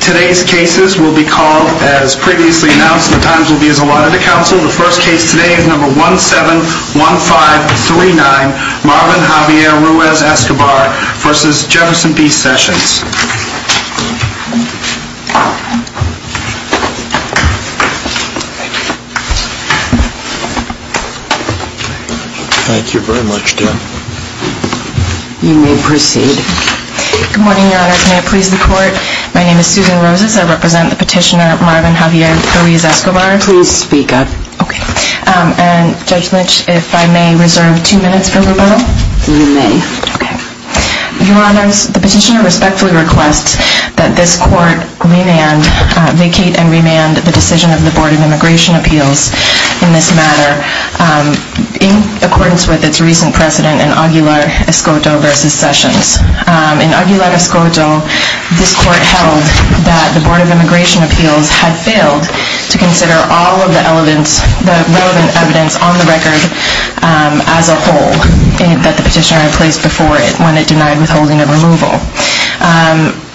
Today's cases will be called as previously announced and the times will be as allotted to counsel. The first case today is number 171539 Marvin Javier Ruiz-Escobar v. Jefferson B. Sessions. Thank you very much, Dan. You may proceed. Good morning, Your Honors. May it please the Court, my name is Susan Roses. I represent the petitioner Marvin Javier Ruiz-Escobar. Please speak up. Okay. And, Judge Lynch, if I may reserve two minutes for rebuttal? You may. Okay. Your Honors, the petitioner respectfully requests that this Court vacate and remand the decision of the Board of Immigration Appeals in this matter in accordance with its recent precedent in Aguilar-Escobar v. Sessions. In Aguilar-Escobar, this Court held that the Board of Immigration Appeals had failed to consider all of the relevant evidence on the record as a whole that the petitioner had placed before when it denied withholding of removal.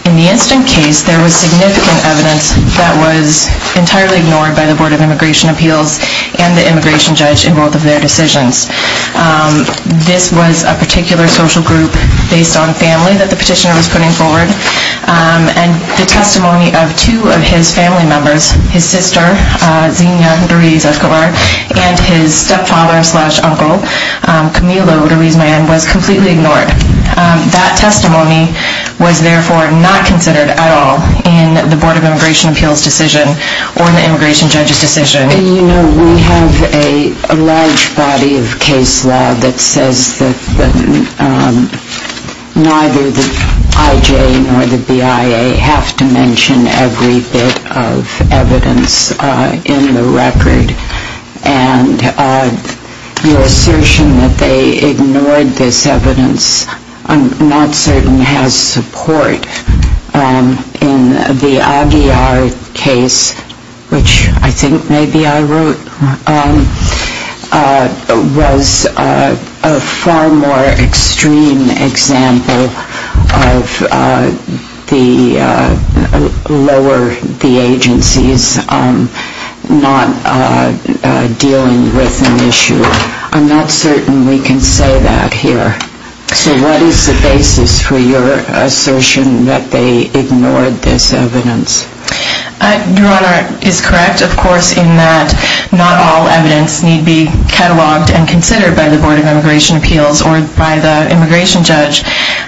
In the incident case, there was significant evidence that was entirely ignored by the Board of Immigration Appeals and the immigration judge in both of their decisions. This was a particular social group based on family that the petitioner was putting forward, and the testimony of two of his family members, his sister, Zina Ruiz-Escobar, and his stepfather-slash-uncle, Camilo Ruiz-Man, was completely ignored. That testimony was, therefore, not considered at all in the Board of Immigration Appeals decision or in the immigration judge's decision. We have a large body of case law that says that neither the IJ nor the BIA have to mention every bit of evidence in the record, and the assertion that they ignored this evidence I'm not certain has support. In the Aguiar case, which I think maybe I wrote, was a far more extreme example of the lower the agencies not dealing with an issue. I'm not certain we can say that here. So what is the basis for your assertion that they ignored this evidence? Your Honor, it is correct, of course, in that not all evidence need be cataloged and considered by the Board of Immigration Appeals or by the immigration judge.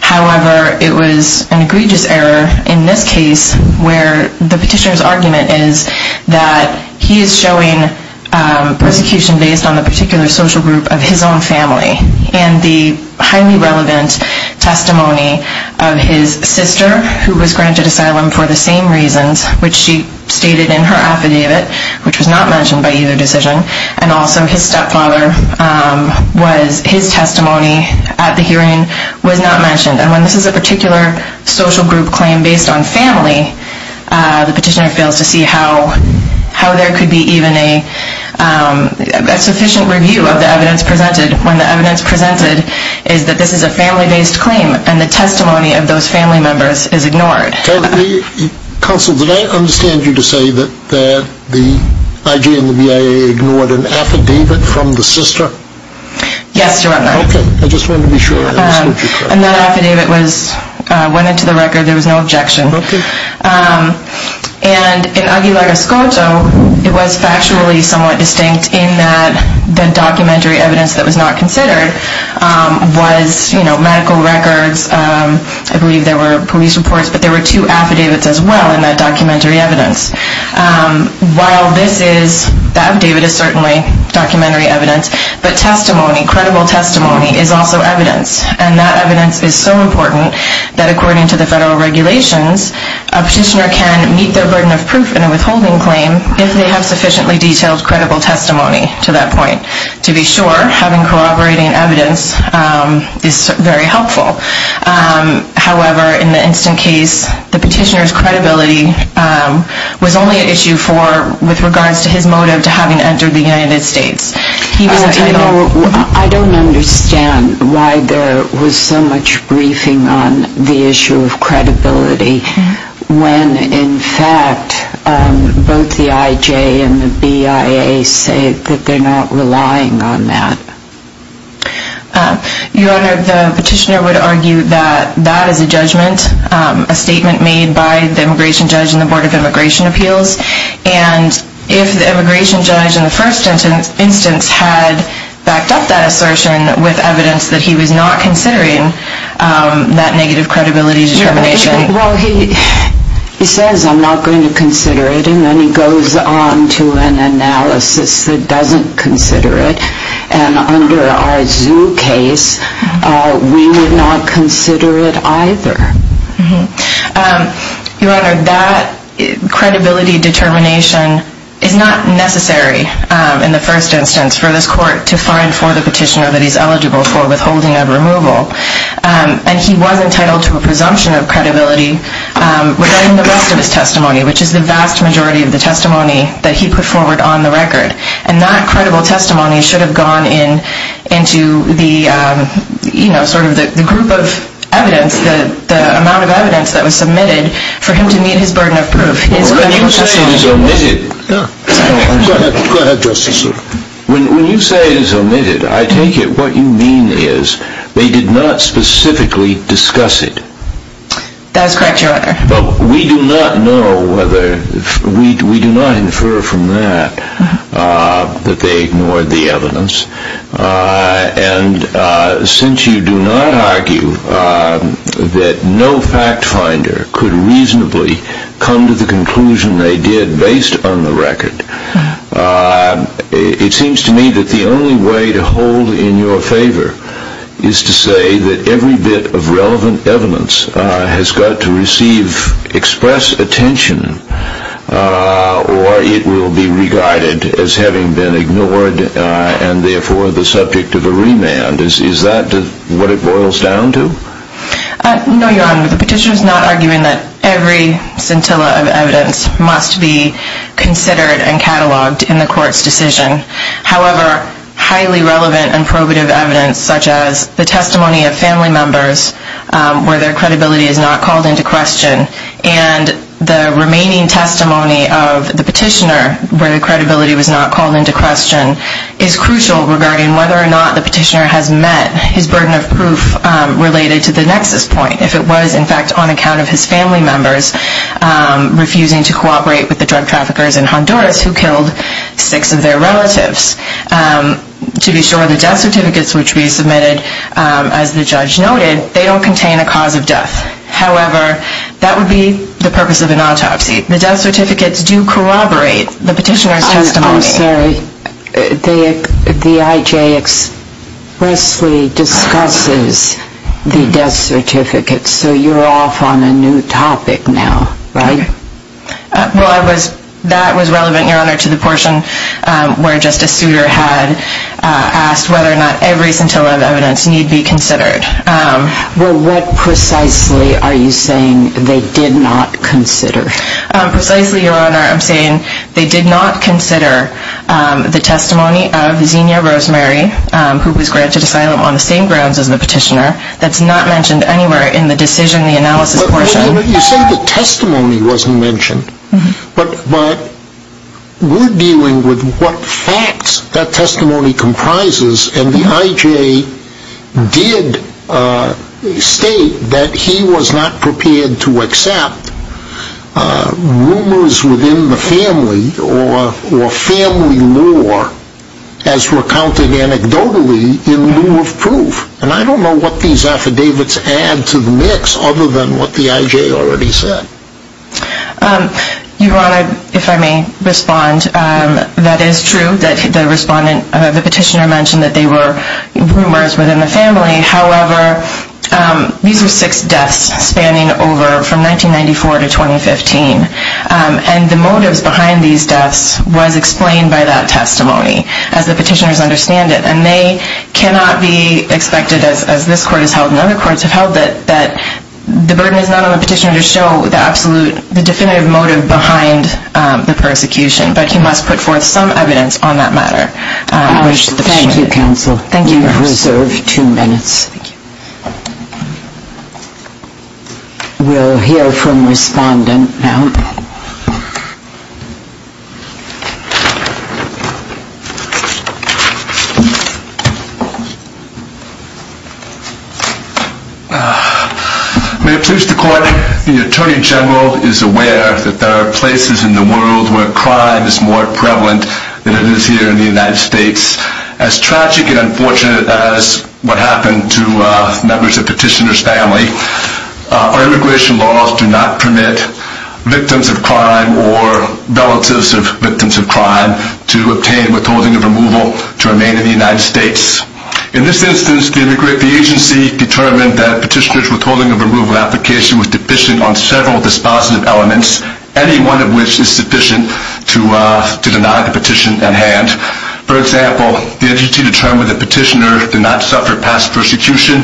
However, it was an egregious error in this case where the petitioner's argument is that he is showing persecution based on the particular social group of his own family. And the highly relevant testimony of his sister, who was granted asylum for the same reasons, which she stated in her affidavit, which was not mentioned by either decision, and also his stepfather, his testimony at the hearing was not mentioned. And when this is a particular social group claim based on family, the petitioner fails to see how there could be even a sufficient review of the evidence presented when the evidence presented is that this is a family-based claim and the testimony of those family members is ignored. Counsel, did I understand you to say that the IG and the BIA ignored an affidavit from the sister? Yes, Your Honor. Okay. I just wanted to be sure. And that affidavit went into the record. There was no objection. Okay. And in Aguilar-Escoto, it was factually somewhat distinct in that the documentary evidence that was not considered was medical records. I believe there were police reports, but there were two affidavits as well in that documentary evidence. While this is, the affidavit is certainly documentary evidence, but testimony, credible testimony, is also evidence. And that evidence is so important that according to the federal regulations, a petitioner can meet their burden of proof in a withholding claim if they have sufficiently detailed credible testimony to that point. To be sure, having corroborating evidence is very helpful. However, in the instant case, the petitioner's credibility was only an issue with regards to his motive to having entered the United States. I don't understand why there was so much briefing on the issue of credibility when, in fact, both the IG and the BIA say that they're not relying on that. Your Honor, the petitioner would argue that that is a judgment, a statement made by the immigration judge and the Board of Immigration Appeals. And if the immigration judge in the first instance had backed up that assertion with evidence that he was not considering that negative credibility determination... Well, he says, I'm not going to consider it, and then he goes on to an analysis that doesn't consider it. And under our Zoo case, we would not consider it either. Your Honor, that credibility determination is not necessary in the first instance for this court to find for the petitioner that he's eligible for withholding of removal. And he was entitled to a presumption of credibility regarding the rest of his testimony, which is the vast majority of the testimony that he put forward on the record. And that credible testimony should have gone into the group of evidence, the amount of evidence that was submitted for him to meet his burden of proof. When you say it is omitted, I take it what you mean is they did not specifically discuss it. That is correct, Your Honor. Well, we do not know whether, we do not infer from that that they ignored the evidence. And since you do not argue that no fact finder could reasonably come to the conclusion they did based on the record, it seems to me that the only way to hold in your favor is to say that every bit of relevant evidence has got to receive express attention, or it will be regarded as having been ignored and therefore the subject of a remand. Is that what it boils down to? No, Your Honor. The petitioner is not arguing that every scintilla of evidence must be considered and cataloged in the court's decision. However, highly relevant and probative evidence such as the testimony of family members where their credibility is not called into question and the remaining testimony of the petitioner where the credibility was not called into question is crucial regarding whether or not the petitioner has met his burden of proof related to the nexus point. If it was, in fact, on account of his family members refusing to cooperate with the drug traffickers in Honduras who killed six of their relatives, to be sure, the death certificates which we submitted, as the judge noted, they do not contain a cause of death. However, that would be the purpose of an autopsy. The death certificates do corroborate the petitioner's testimony. I'm sorry. The IJ expressly discusses the death certificates. So you're off on a new topic now, right? Well, that was relevant, Your Honor, to the portion where Justice Souter had asked whether or not every scintilla of evidence need be considered. Well, what precisely are you saying they did not consider? Precisely, Your Honor, I'm saying they did not consider the testimony of Xenia Rosemary, who was granted asylum on the same grounds as the petitioner, that's not mentioned anywhere in the decision, the analysis portion. You say the testimony wasn't mentioned, but we're dealing with what facts that testimony comprises, and the IJ did state that he was not prepared to accept rumors within the family or family lore as recounted anecdotally in lieu of proof. And I don't know what these affidavits add to the mix other than what the IJ already said. Your Honor, if I may respond, that is true that the petitioner mentioned that they were rumors within the family. However, these are six deaths spanning over from 1994 to 2015, and the motives behind these deaths was explained by that testimony, as the petitioners understand it. And they cannot be expected, as this court has held and other courts have held, that the burden is not on the petitioner to show the definitive motive behind the persecution, but he must put forth some evidence on that matter. Thank you, counsel. We reserve two minutes. We'll hear from respondent now. May it please the court, the Attorney General is aware that there are places in the world where crime is more prevalent than it is here in the United States. As tragic and unfortunate as what happened to members of Petitioner's family, our immigration laws do not permit victims of crime or relatives of victims of crime to obtain withholding of removal to remain in the United States. In this instance, the agency determined that Petitioner's withholding of removal application was deficient on several dispositive elements, any one of which is sufficient to deny the petition at hand. For example, the agency determined that Petitioner did not suffer past persecution.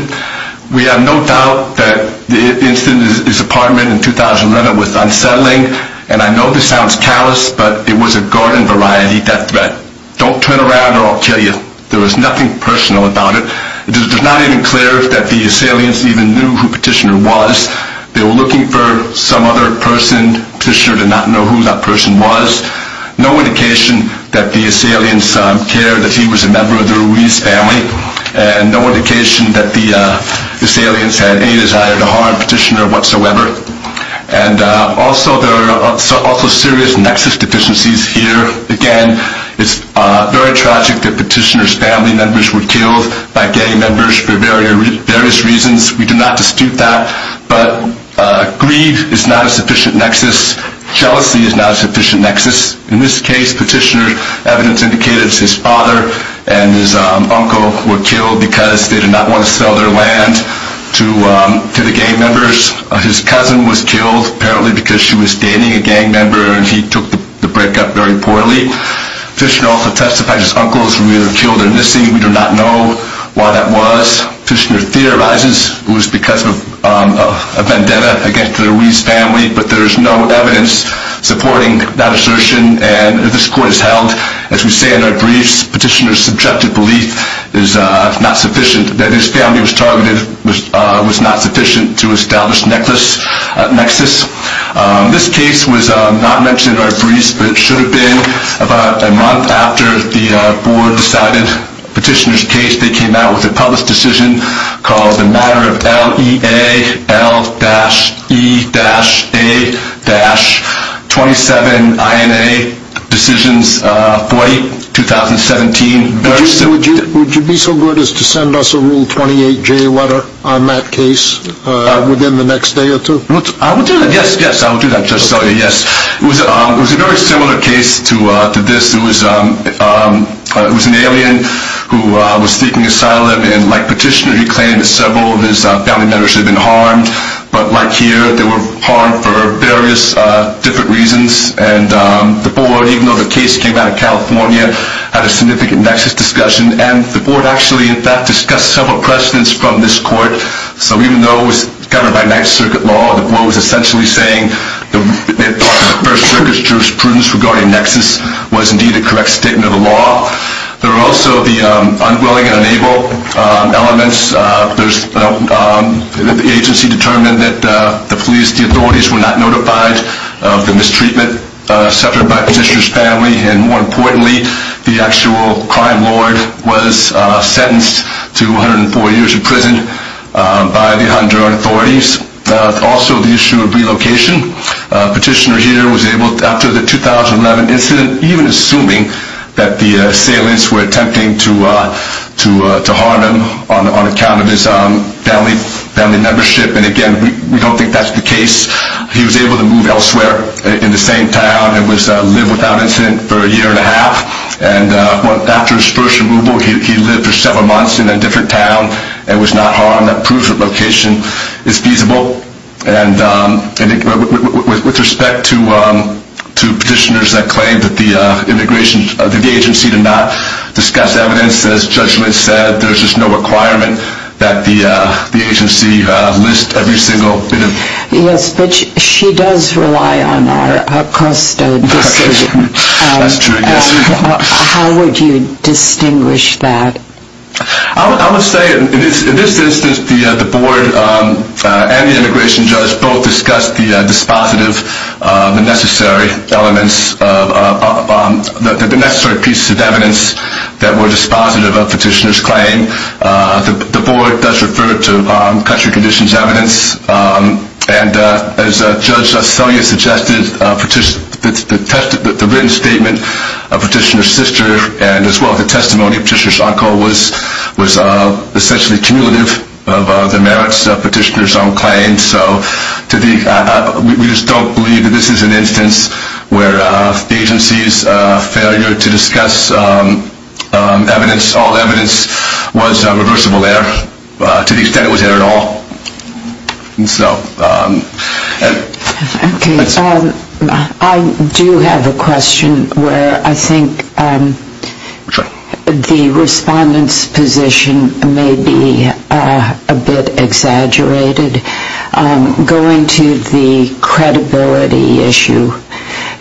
We have no doubt that the incident at his apartment in 2011 was unsettling, and I know this sounds callous, but it was a garden variety death threat. Don't turn around or I'll kill you. There was nothing personal about it. It is not even clear that the assailants even knew who Petitioner was. They were looking for some other person. Petitioner did not know who that person was. No indication that the assailants cared that he was a member of the Ruiz family, and no indication that the assailants had any desire to harm Petitioner whatsoever. Also, there are serious nexus deficiencies here. Again, it's very tragic that Petitioner's family members were killed by gay members for various reasons. We do not dispute that, but grief is not a sufficient nexus. Jealousy is not a sufficient nexus. In this case, Petitioner's evidence indicated his father and his uncle were killed because they did not want to sell their land to the gay members. His cousin was killed apparently because she was dating a gang member and he took the breakup very poorly. Petitioner also testified his uncle was revealed to have killed their missing. We do not know why that was. Petitioner theorizes it was because of a vendetta against the Ruiz family, but there is no evidence supporting that assertion, and this court has held, as we say in our briefs, that Petitioner's subjective belief that his family was targeted was not sufficient to establish nexus. This case was not mentioned in our briefs, but it should have been about a month after the board decided Petitioner's case. They came out with a published decision called the matter of L-E-A-L-E-A-27-I-N-A-Decisions-40-2017. Would you be so good as to send us a Rule 28-J letter on that case within the next day or two? I would do that, yes, yes, I would do that. It was a very similar case to this. It was an alien who was seeking asylum, and like Petitioner, he claimed several of his family members had been harmed. But like here, they were harmed for various different reasons. And the board, even though the case came out of California, had a significant nexus discussion, and the board actually in fact discussed several precedents from this court. So even though it was governed by Ninth Circuit law, the board was essentially saying that the First Circuit's jurisprudence regarding nexus was indeed a correct statement of the law. There were also the unwilling and unable elements. The agency determined that the authorities were not notified of the mistreatment suffered by Petitioner's family, and more importantly, the actual crime lord was sentenced to 104 years in prison by the Honduran authorities. Also the issue of relocation. Petitioner here was able, after the 2011 incident, even assuming that the assailants were attempting to harm him on account of his family membership, and again, we don't think that's the case, he was able to move elsewhere in the same town and live without incident for a year and a half. And after his first removal, he lived for several months in a different town and was not harmed. That proves that location is feasible. And with respect to Petitioner's claim that the agency did not discuss evidence, as Judge Litt said, there's just no requirement that the agency list every single bit of evidence. Yes, but she does rely on our costa decision. That's true, yes. How would you distinguish that? I would say in this instance, the board and the immigration judge both discussed the dispositive, the necessary elements, the necessary pieces of evidence that were dispositive of Petitioner's claim. The board does refer to country conditions evidence. And as Judge Selye suggested, the written statement of Petitioner's sister, and as well as the testimony of Petitioner's uncle, was essentially cumulative of the merits of Petitioner's own claim. So we just don't believe that this is an instance where the agency's failure to discuss evidence, all evidence, was reversible error to the extent it was error at all. I do have a question where I think the respondent's position may be a bit exaggerated. Going to the credibility issue,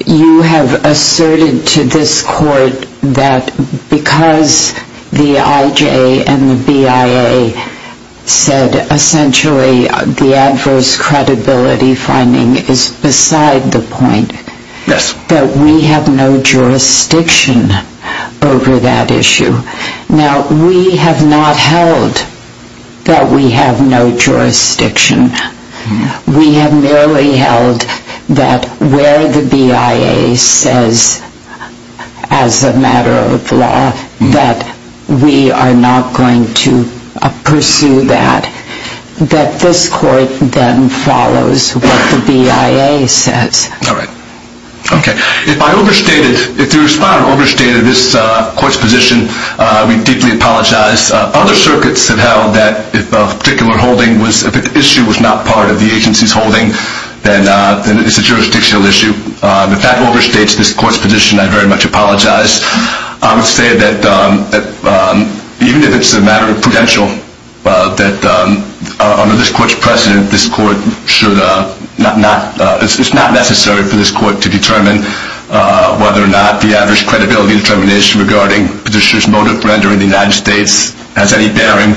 you have asserted to this court that because the IJ and the BIA said essentially that the adverse credibility finding is beside the point, that we have no jurisdiction over that issue. Now, we have not held that we have no jurisdiction. We have merely held that where the BIA says as a matter of law that we are not going to pursue that, that this court then follows what the BIA says. All right. Okay. If I overstated, if the respondent overstated this court's position, we deeply apologize. Other circuits have held that if a particular holding was, if an issue was not part of the agency's holding, then it's a jurisdictional issue. If that overstates this court's position, I very much apologize. I would say that even if it's a matter of prudential, that under this court's precedent, this court should not, it's not necessary for this court to determine whether or not the adverse credibility determination regarding Petitioner's motive for entering the United States has any bearing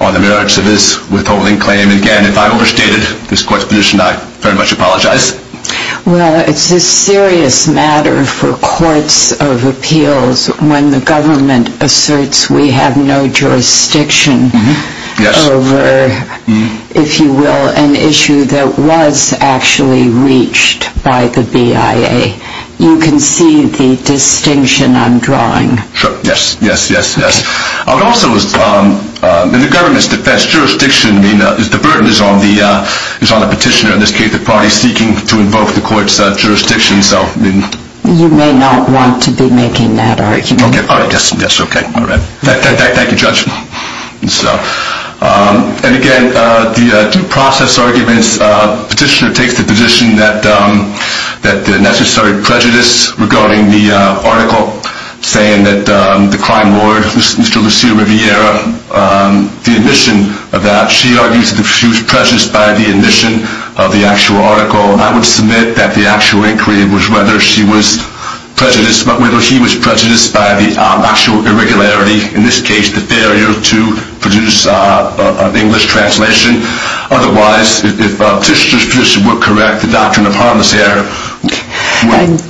on the merits of his withholding claim. Again, if I overstated this court's position, I very much apologize. Well, it's a serious matter for courts of appeals when the government asserts we have no jurisdiction over, if you will, an issue that was actually reached by the BIA. You can see the distinction I'm drawing. Sure. Yes, yes, yes, yes. I would also, in the government's defense, jurisdiction, the burden is on the Petitioner, in this case the party seeking to invoke the court's jurisdiction. You may not want to be making that argument. Okay, all right, yes, yes, okay, all right. Thank you, Judge. And again, due process arguments, Petitioner takes the position that the necessary prejudice regarding the article saying that the crime lawyer, Mr. Lucille Riviera, the admission of that, she argues that she was prejudiced by the admission of the actual article. I would submit that the actual inquiry was whether she was prejudiced, whether he was prejudiced by the actual irregularity, in this case the failure to produce an English translation. Otherwise, if Petitioner's position were correct, the doctrine of harmless error.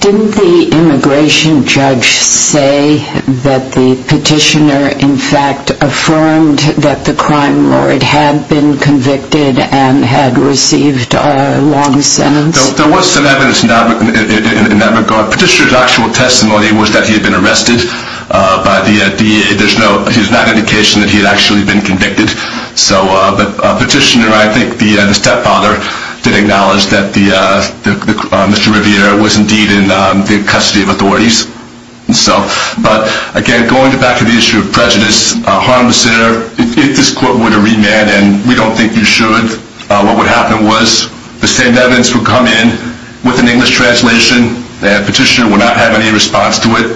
Didn't the immigration judge say that the Petitioner, in fact, affirmed that the crime lawyer had been convicted and had received a long sentence? There was some evidence in that regard. Petitioner's actual testimony was that he had been arrested by the DEA. There's no indication that he had actually been convicted. But Petitioner and I think the stepfather did acknowledge that Mr. Riviera was indeed in the custody of authorities. But again, going back to the issue of prejudice, harmless error, if this court were to remand and we don't think you should, what would happen was the same evidence would come in with an English translation and Petitioner would not have any response to it,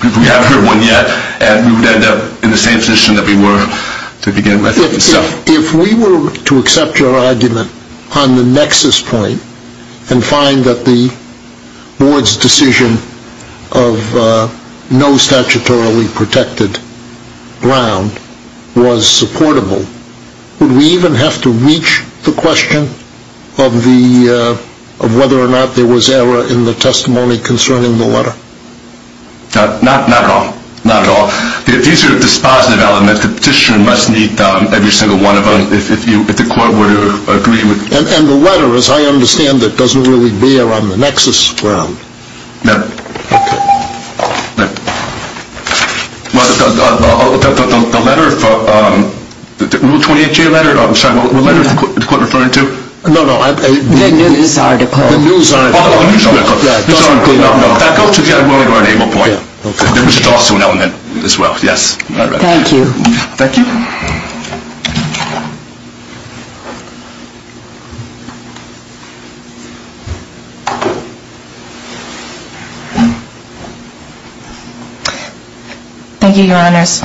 because we haven't heard one yet, and we would end up in the same position that we were to begin with. If we were to accept your argument on the nexus point and find that the board's decision of no statutorily protected ground was supportable, would we even have to reach the question of whether or not there was error in the testimony concerning the letter? Not at all. These are dispositive elements that Petitioner must meet, every single one of them, if the court were to agree. And the letter, as I understand it, doesn't really bear on the nexus ground. No. Okay. The letter, the Rule 28J letter, I'm sorry, what letter is the court referring to? No, no. The news article. The news article. No, no, no. Does that go to the argument or an able point? Which is also an element as well. Yes. Thank you. Thank you. Thank you, Your Honors.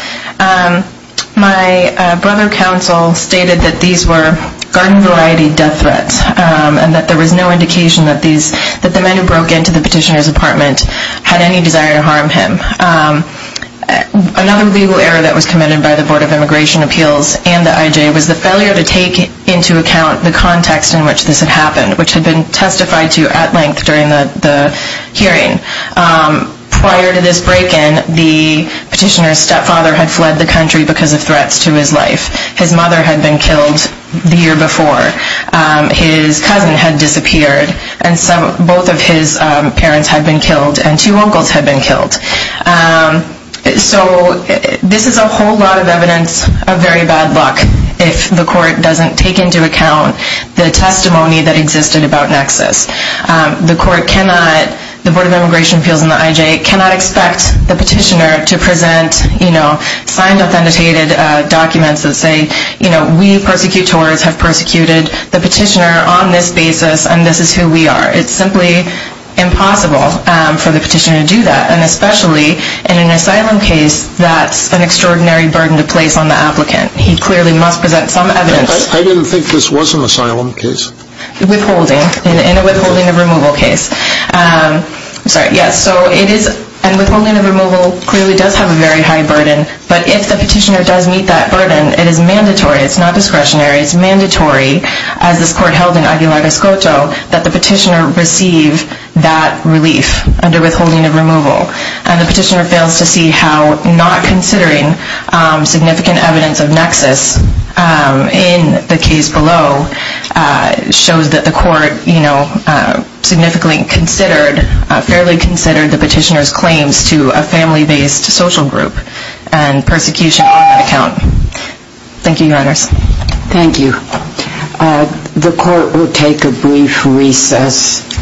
My brother counsel stated that these were garden variety death threats and that there was no indication that the men who broke into the Petitioner's apartment had any desire to harm him. Another legal error that was committed by the Board of Immigration Appeals and the IJ was the failure to take into account the context in which this had happened, which had been testified to at length during the hearing. Prior to this break-in, the Petitioner's stepfather had fled the country because of threats to his life. His mother had been killed the year before. His cousin had disappeared and both of his parents had been killed and two uncles had been killed. So this is a whole lot of evidence of very bad luck if the court doesn't take into account the testimony that existed about nexus. The court cannot, the Board of Immigration Appeals and the IJ, cannot expect the Petitioner to present, you know, signed authenticated documents that say, you know, we persecutors have persecuted the Petitioner on this basis and this is who we are. It's simply impossible for the Petitioner to do that and especially in an asylum case that's an extraordinary burden to place on the applicant. He clearly must present some evidence. I didn't think this was an asylum case. Withholding, in a withholding of removal case. I'm sorry, yes, so it is, and withholding of removal clearly does have a very high burden, but if the Petitioner does meet that burden, it is mandatory, it's not discretionary, it's mandatory, as this court held in Aguilar Escoto, that the Petitioner receive that relief under withholding of removal. And the Petitioner fails to see how not considering significant evidence of nexus in the case below shows that the court, you know, significantly considered, fairly considered the Petitioner's claims to a family-based social group and persecution on that account. Thank you, Your Honors. Thank you. The court will take a brief recess.